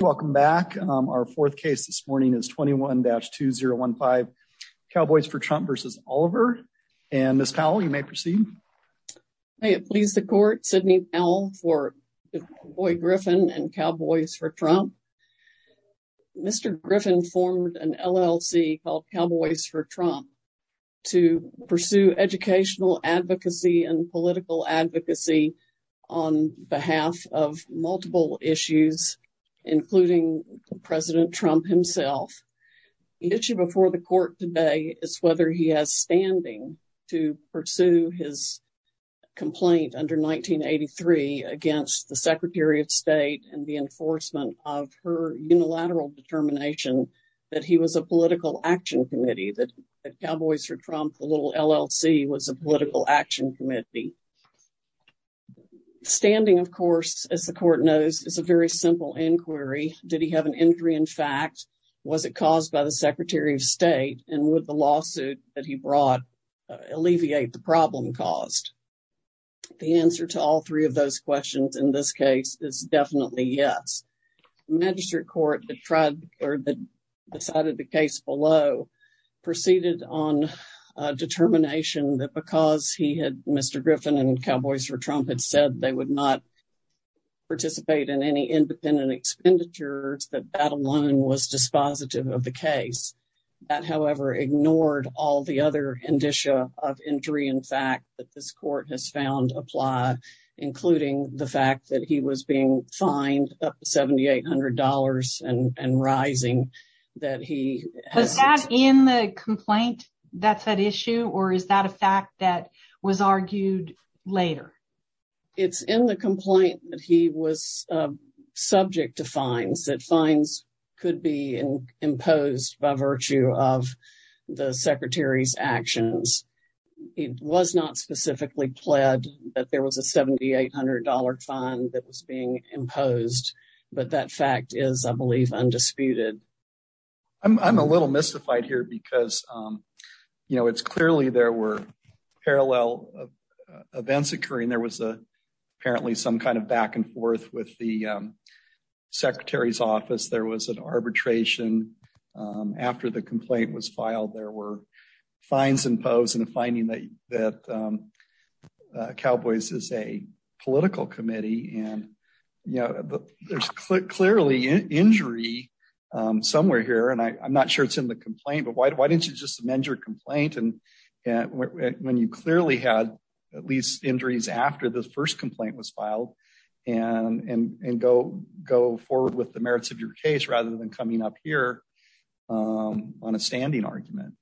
Welcome back. Um, our fourth case this morning is 21-2015 Cowboys for Trump versus Oliver. And Ms. Powell, you may proceed. May it please the court. Sidney Powell for Boyd Griffin and Cowboys for Trump. Mr. Griffin formed an LLC called Cowboys for Trump to pursue educational advocacy and political advocacy on behalf of multiple issues, including President Trump himself, the issue before the court today is whether he has standing to pursue his complaint under 1983 against the secretary of state and the enforcement of her unilateral determination that he was a political action committee, that Cowboys for Trump, the little LLC was a political action committee standing. Of course, as the court knows, it's a very simple inquiry. Did he have an injury? In fact, was it caused by the secretary of state and would the lawsuit that he brought alleviate the problem caused? The answer to all three of those questions in this case is definitely yes. Magistrate court that tried or that decided the case below proceeded on a Mr. Griffin and Cowboys for Trump had said they would not participate in any independent expenditures that battle line was dispositive of the case that however, ignored all the other indicia of injury. In fact, that this court has found apply, including the fact that he was being fined up to $7,800 and rising that he has in the complaint that's that issue, or is that a fact that was argued later? It's in the complaint that he was subject to fines that fines could be imposed by virtue of the secretary's actions. It was not specifically pled that there was a $7,800 fine that was being imposed, but that fact is, I believe, undisputed. I'm, I'm a little mystified here because, you know, it's clearly there were parallel events occurring. There was a, apparently some kind of back and forth with the secretary's office. There was an arbitration after the complaint was filed, there were fines imposed and the finding that, that, Cowboys is a political committee and, you know, there's clearly injury somewhere here and I, I'm not sure it's in the complaint, but why, why didn't you just amend your complaint? And when you clearly had at least injuries after the first complaint was filed and, and, and go, go forward with the merits of your case, rather than coming up here on a standing argument.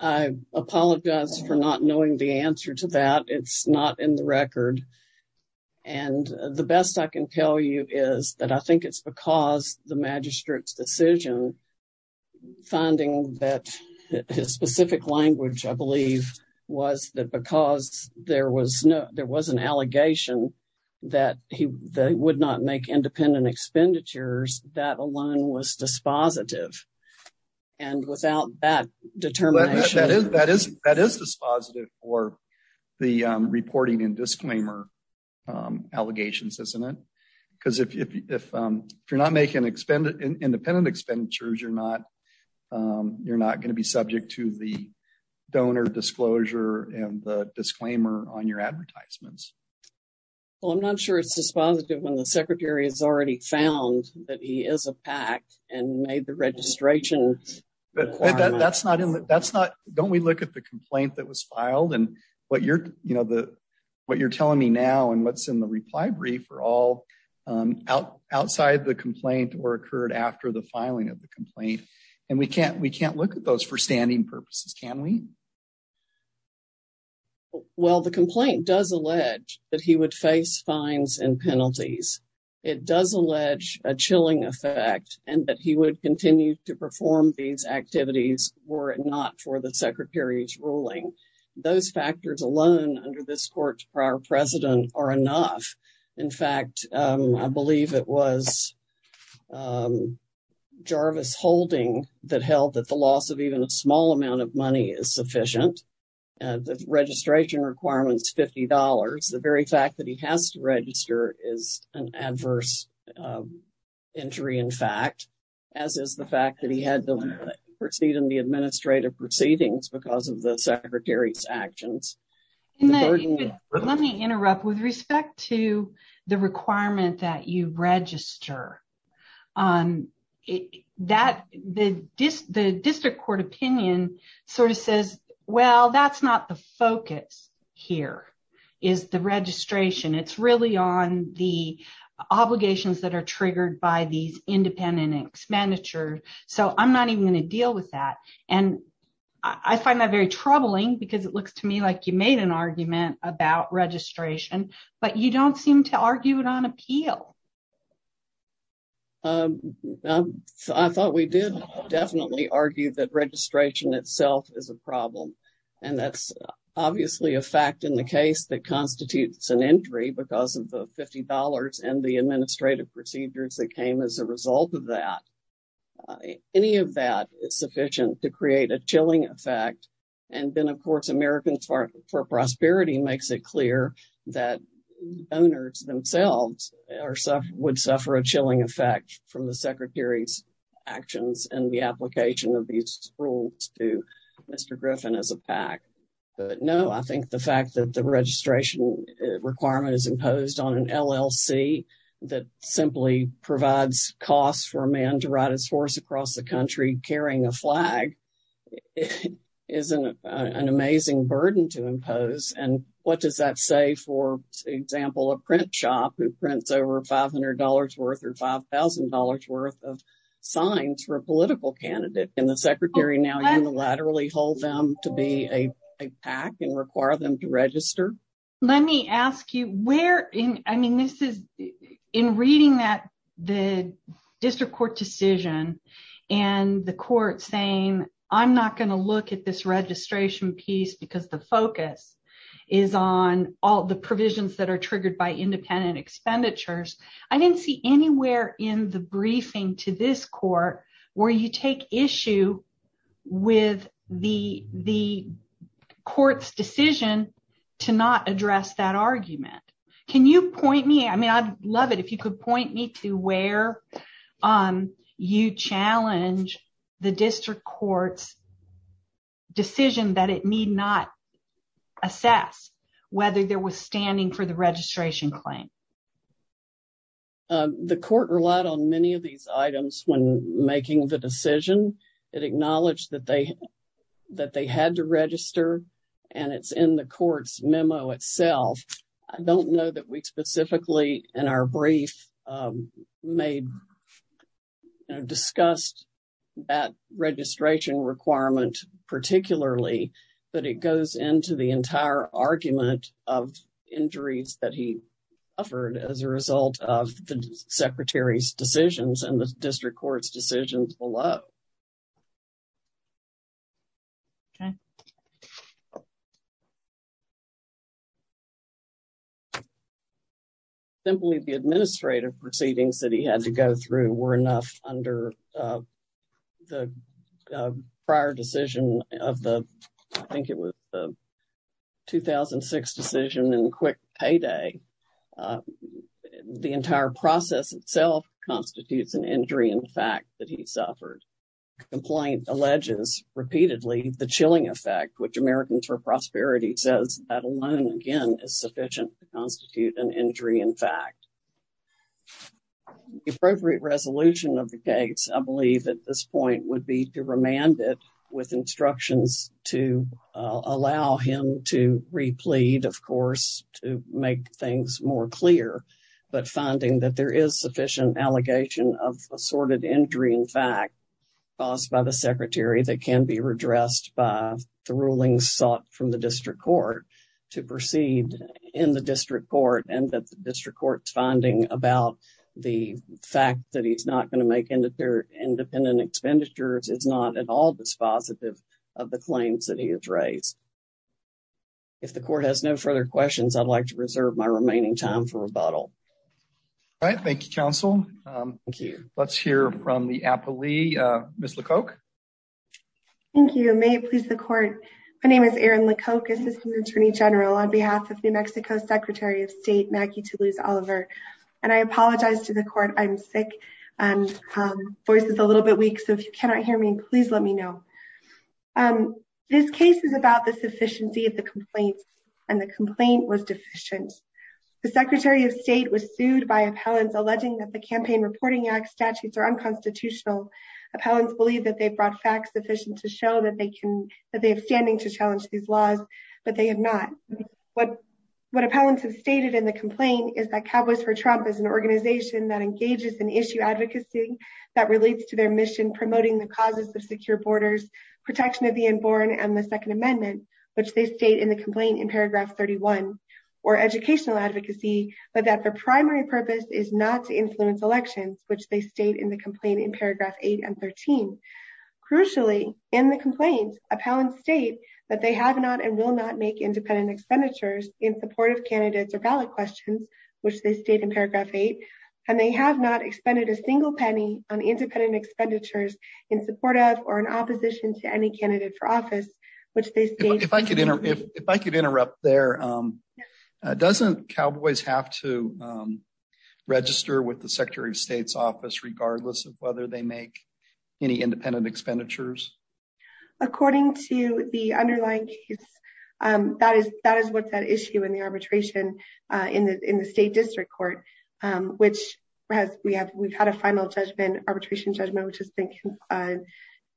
I apologize for not knowing the answer to that. It's not in the record. And the best I can tell you is that I think it's because the magistrate's decision, finding that his specific language, I believe, was that because there was no, there was an allegation that he would not make independent expenditures, that alone was dispositive. And without that determination. That is, that is, that is dispositive for the reporting and disclaimer allegations, isn't it? Cause if, if, if, if you're not making independent expenditures, you're not, you're not going to be subject to the donor disclosure and the disclaimer on your advertisements. Well, I'm not sure it's dispositive when the secretary has already found that he is a PAC and made the registration. But that's not, that's not, don't we look at the complaint that was filed and what you're, you know, the, what you're telling me now and what's in the reply brief are all, um, out outside the complaint or occurred after the filing of the complaint. And we can't, we can't look at those for standing purposes. Can we? Well, the complaint does allege that he would face fines and penalties. It does allege a chilling effect and that he would continue to perform these activities were it not for the secretary's ruling. Those factors alone under this court's prior precedent are enough. In fact, um, I believe it was, um, Jarvis holding that held that the loss of even a small amount of money is sufficient. Uh, the registration requirements, $50. The very fact that he has to register is an adverse, um, injury. In fact, as is the fact that he had to proceed in the administrative proceedings because of the secretary's actions. Let me interrupt with respect to the requirement that you register, um, that the dis the district court opinion sort of says, well, that's not the focus here. Is the registration it's really on the obligations that are triggered by these independent expenditure. So I'm not even going to deal with that. And I find that very troubling because it looks to me like you made an argument about registration, but you don't seem to argue it on appeal. Um, um, so I thought we did definitely argue that registration itself is a And that's obviously a fact in the case that constitutes an injury because of the $50 and the administrative procedures that came as a result of that. Uh, any of that is sufficient to create a chilling effect. And then of course, Americans for Prosperity makes it clear that owners themselves are, would suffer a chilling effect from the secretary's actions and the application of these rules to Mr. Griffin as a PAC, but no, I think the fact that the registration requirement is imposed on an LLC that simply provides costs for a man to ride his horse across the country, carrying a flag is an amazing burden to impose. And what does that say? For example, a print shop who prints over $500 worth or $5,000 worth of signs for a political candidate and the secretary now unilaterally hold them to be a PAC and require them to register. Let me ask you where in, I mean, this is in reading that the district court decision and the court saying, I'm not going to look at this registration piece because the focus is on all the provisions that are triggered by independent expenditures, I didn't see anywhere in the briefing to this court where you take issue with the, the court's decision to not address that argument. Can you point me, I mean, I'd love it if you could point me to where, um, you challenge the district court's decision that it need not assess whether there was standing for the registration claim. Um, the court relied on many of these items when making the decision that acknowledged that they, that they had to register and it's in the court's memo itself, I don't know that we specifically in our brief, um, made, you know, discussed that registration requirement particularly, but it goes into the district court as a result of the secretary's decisions and the district court's decisions below. Okay. Simply the administrative proceedings that he had to go through were enough under, uh, the, uh, prior decision of the, I think it was the 2006 decision in which the district court's decision, uh, was sufficient to constitute an injury in fact that he suffered the complaint alleges repeatedly the chilling effect, which Americans for Prosperity says that alone, again, is sufficient to constitute an injury in fact. The appropriate resolution of the case, I believe at this point would be to make things more clear, but finding that there is sufficient allegation of assorted injury in fact caused by the secretary that can be redressed by the rulings sought from the district court to proceed in the district court and that the district court's finding about the fact that he's not going to make independent expenditures is not at all dispositive of the claims that he has raised. If the court has no further questions, I'd like to reserve my remaining time for rebuttal. All right. Thank you, counsel. Thank you. Let's hear from the appellee, uh, Ms. LeCocq. Thank you. May it please the court. My name is Erin LeCocq, assistant attorney general on behalf of New Mexico's secretary of state, Maggie Toulouse Oliver, and I apologize to the court. I'm sick and, um, voice is a little bit weak. So if you cannot hear me, please let me know. Um, this case is about the sufficiency of the complaints and the complaint was deficient. The secretary of state was sued by appellants alleging that the campaign reporting act statutes are unconstitutional. Appellants believe that they've brought facts sufficient to show that they can, that they have standing to challenge these laws, but they have not. What, what appellants have stated in the complaint is that Caboos for Trump is an organization that engages in issue advocacy that relates to their mission, promoting the of secure borders, protection of the unborn and the second amendment, which they stayed in the complaint in paragraph 31 or educational advocacy, but that the primary purpose is not to influence elections, which they stayed in the complaint in paragraph eight and 13. Crucially in the complaints appellant state that they have not and will not make independent expenditures in support of candidates or valid questions, which they stayed in paragraph eight. And they have not expended a single penny on independent expenditures in support of, or in opposition to any candidate for office, which they, if I could, if I could interrupt there, um, uh, doesn't Cowboys have to, um, register with the secretary of state's office, regardless of whether they make any independent expenditures. According to the underlying case, um, that is, that is what's at issue in the arbitration, uh, in the, in the state district court, um, which has, we have, we've had a final judgment, arbitration judgment, which has been, uh,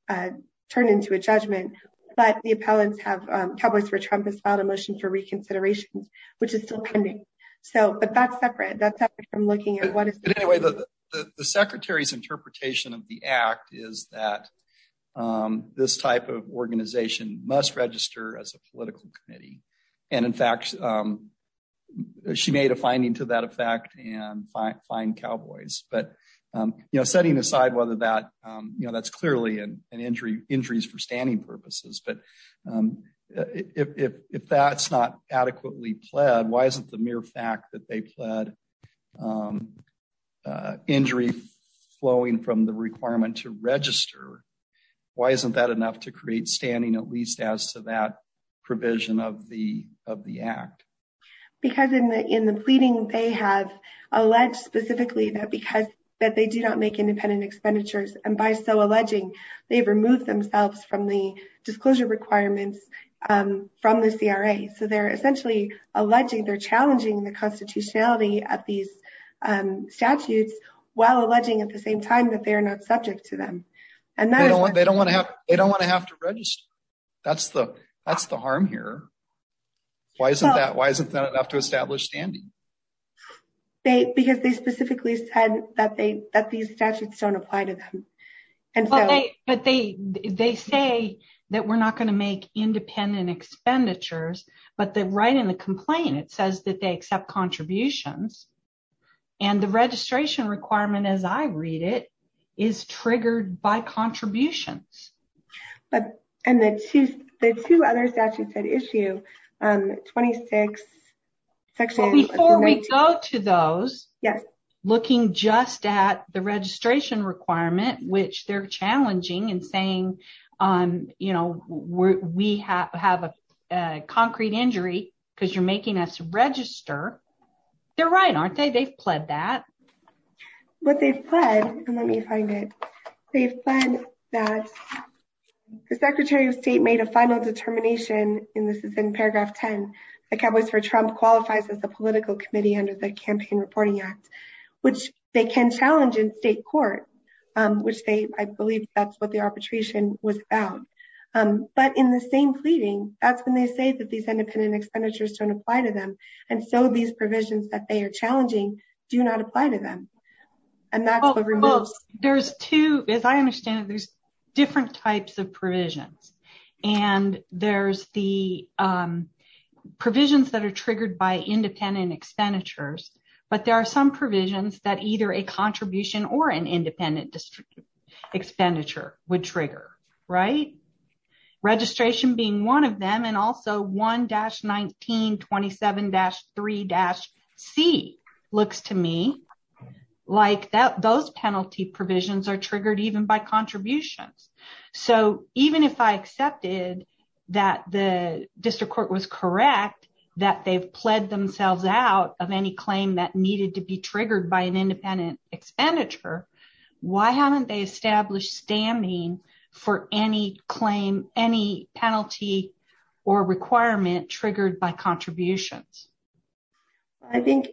uh, turned into a judgment, but the appellants have, um, Cowboys for Trump has filed a motion for reconsiderations, which is still pending. So, but that's separate, that's separate from looking at what is the secretary's interpretation of the act is that, um, this type of organization must register as a political committee. And in fact, um, she made a finding to that effect and find Cowboys, but, um, you know, setting aside whether that, um, you know, that's clearly an injury injuries for standing purposes, but, um, if, if, if that's not adequately pled, why isn't the mere fact that they pled, um, uh, injury flowing from the requirement to register? Why isn't that enough to create standing, at least as to that provision of the, of the act? Because in the, in the pleading, they have alleged specifically that because that they do not make independent expenditures. And by so alleging they've removed themselves from the disclosure requirements, um, from the CRA. So they're essentially alleging they're challenging the constitutionality at these, um, statutes while alleging at the same time that they are not subject to them. And they don't want, they don't want to have, they don't want to have to register. That's the, that's the harm here. Why isn't that, why isn't that enough to establish standing? They, because they specifically said that they, that these statutes don't apply to them. And so, but they, they say that we're not going to make independent expenditures, but the right in the complaint, it says that they accept contributions and the registration requirement, as I read it is triggered by contributions. But, and the two, the two other statutes that issue, um, 26 section. Before we go to those. Yes. Looking just at the registration requirement, which they're challenging and saying, um, you know, we have a concrete injury because you're making us register. They're right, aren't they? They've pled that. But they've pled, and let me find it. They've pled that the secretary of state made a final determination, and this is in paragraph 10, that Cowboys for Trump qualifies as a political committee under the campaign reporting act, which they can challenge in state court, um, without, um, but in the same pleading, that's when they say that these independent expenditures don't apply to them. And so these provisions that they are challenging do not apply to them. And that's what removes. There's two, as I understand it, there's different types of provisions and there's the, um, provisions that are triggered by independent expenditures. But there are some provisions that either a contribution or an independent expenditure would trigger, right? Registration being one of them. And also 1-1927-3-C looks to me like that. Those penalty provisions are triggered even by contributions. So even if I accepted that the district court was correct, that they've pled themselves out of any claim that needed to be triggered by an independent expenditure, why haven't they established stamming for any claim, any penalty or requirement triggered by contributions? I think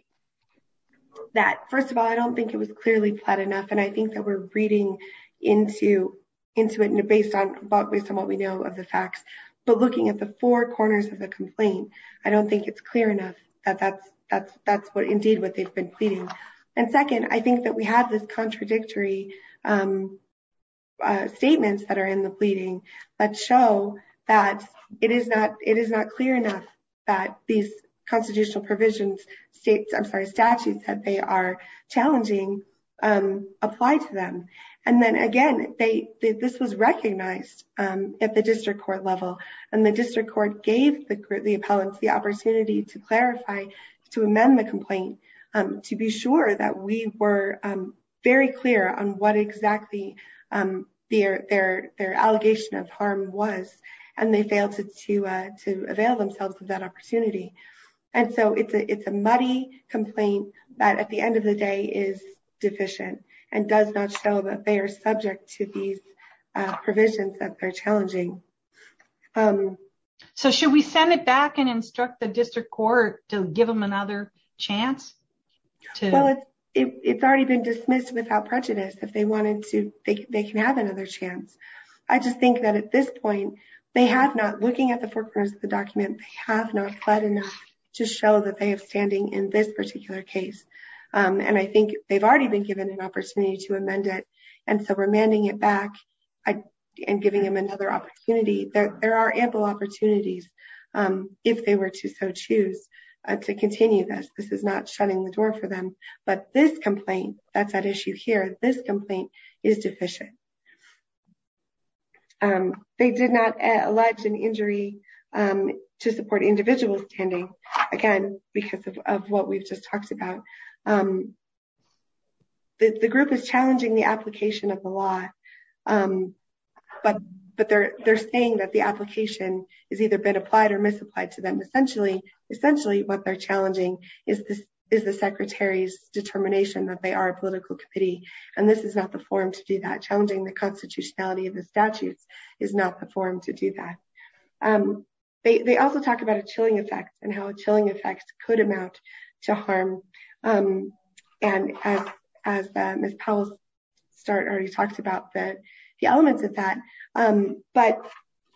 that, first of all, I don't think it was clearly pled enough. And I think that we're reading into, into it and based on what we know of the facts, but looking at the four corners of the complaint, I don't think it's clear enough that that's, that's, that's what they've been pleading. And second, I think that we have this contradictory, um, uh, statements that are in the pleading that show that it is not, it is not clear enough that these constitutional provisions states, I'm sorry, statutes that they are challenging, um, apply to them. And then again, they, this was recognized, um, at the district court level and the district court gave the, the appellants the opportunity to clarify, to amend the complaint, um, to be sure that we were, um, very clear on what exactly, um, their, their, their allegation of harm was, and they failed to, uh, to avail themselves of that opportunity. And so it's a, it's a muddy complaint that at the end of the day is deficient and does not show that they are subject to these, uh, provisions that they're challenging. Um, so should we send it back and instruct the district court to give them another chance? Well, it's, it's already been dismissed without prejudice. If they wanted to, they can, they can have another chance. I just think that at this point, they have not looking at the four corners of the document, they have not fled enough to show that they have standing in this particular case. Um, and I think they've already been given an opportunity to amend it. And so remanding it back and giving them another opportunity, that there are ample opportunities, um, if they were to so choose to continue this, this is not shutting the door for them, but this complaint, that's at issue here, this complaint is deficient. Um, they did not allege an injury, um, to support individual again, because of, of what we've just talked about. Um, the group is challenging the application of the law. Um, but, but they're, they're saying that the application is either been applied or misapplied to them. Essentially, essentially, what they're challenging is, is the secretary's determination that they are a political committee. And this is not the forum to do that. Challenging the constitutionality of the statutes is not the forum to do that. Um, they, they also talk about a chilling effect and how chilling effects could amount to harm. Um, and as, as Ms. Powell's start already talked about that, the elements of that, um, but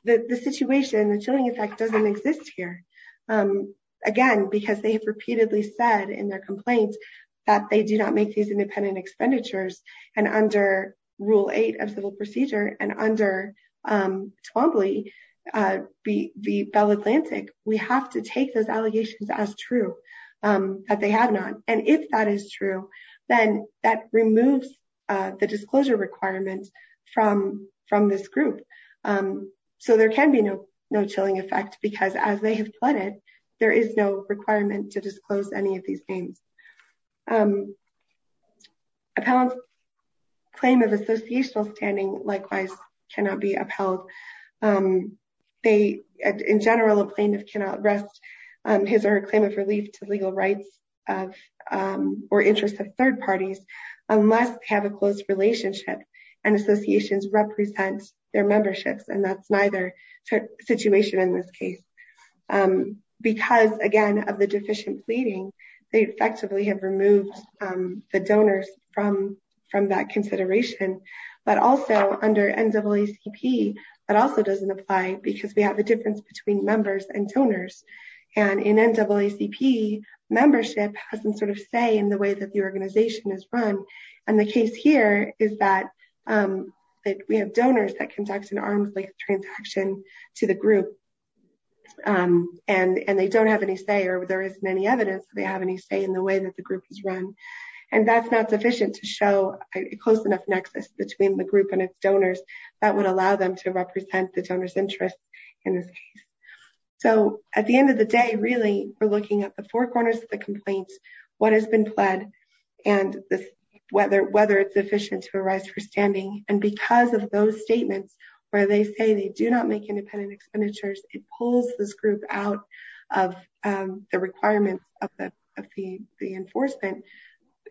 the, the situation, the chilling effect doesn't exist here. Um, again, because they have repeatedly said in their complaints that they do not make these um, Twombly, uh, be, be Bell Atlantic. We have to take those allegations as true, um, that they have not. And if that is true, then that removes, uh, the disclosure requirements from, from this group. Um, so there can be no, no chilling effect because as they have plotted, there is no requirement to disclose any of these names. Um, claim of associational standing, likewise cannot be upheld. Um, they, in general, a plaintiff cannot rest, um, his or her claim of relief to legal rights of, um, or interest of third parties unless they have a close relationship and associations represent their memberships. And that's neither situation in this case. Um, because again, of the deficient pleading, they effectively have removed, um, the donors from, from that consideration, but also under NAACP, that also doesn't apply because we have a difference between members and donors. And in NAACP membership has some sort of say in the way that the organization is run. And the case here is that, um, that we have donors that conduct an arm's length transaction to the group, um, and, and they don't have any say, or there is many evidence that they have any say in the way that the group is run. And that's not sufficient to show a close enough nexus between the group and its donors that would allow them to represent the donor's interest. So at the end of the day, really we're looking at the four corners of the complaints, what has been pled and whether, whether it's efficient to arise for standing. And because of those statements where they say they do not make independent expenditures, it pulls this group out of, um, the requirements of the, of the, the enforcement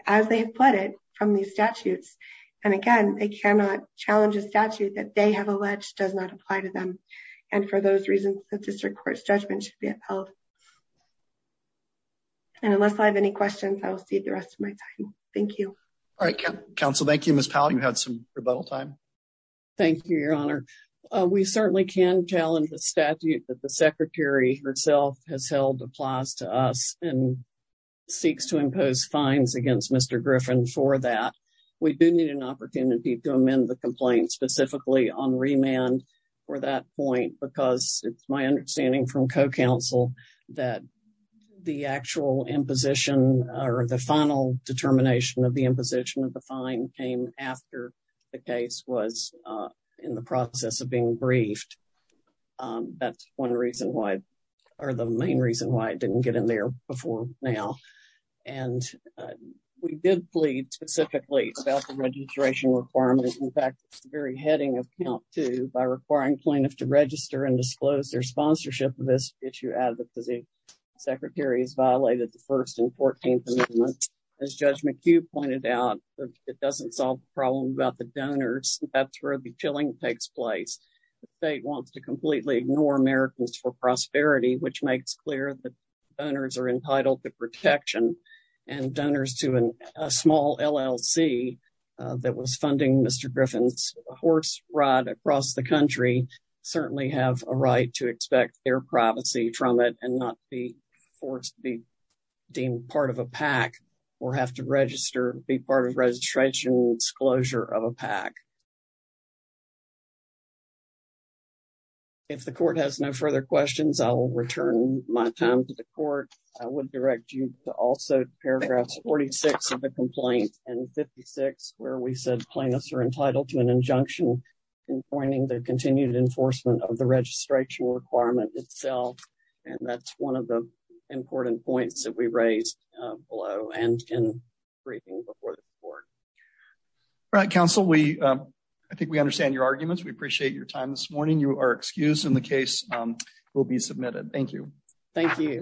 as they have pleaded from these statutes. And again, they cannot challenge a statute that they have alleged does not apply to them. And for those reasons, the district court's judgment should be upheld. And unless I have any questions, I will see the rest of my time. Thank you. All right. Council. Thank you, had some rebuttal time. Thank you, your honor. Uh, we certainly can challenge the statute that the secretary herself has held applies to us and seeks to impose fines against Mr. Griffin for that. We do need an opportunity to amend the complaint specifically on remand for that point, because it's my understanding from co-counsel that the actual imposition or the final determination of the imposition of the fine came after the case was, uh, in the process of being briefed. Um, that's one reason why, or the main reason why it didn't get in there before now. And, uh, we did plead specifically about the registration requirements. In fact, it's the very heading of count two by requiring plaintiffs to register and disclose their sponsorship of this issue. Advocacy secretary has violated the first and 14th amendment as judge McHugh pointed out, it doesn't solve the problem about the donors. That's where the killing takes place. The state wants to completely ignore Americans for prosperity, which makes clear that donors are entitled to protection and donors to a small LLC that was funding Mr. Griffin's horse ride across the country certainly have a right to expect their privacy from it and not be deemed part of a PAC or have to register, be part of registration disclosure of a PAC. If the court has no further questions, I'll return my time to the court. I would direct you to also paragraphs 46 of the complaint and 56 where we said plaintiffs are entitled to an injunction in pointing the continued enforcement of the registration requirement itself. And that's one of the important points that we raised below and in briefing before the court. All right, counsel. We, um, I think we understand your arguments. We appreciate your time this morning. You are excused in the case will be submitted. Thank you. Thank you.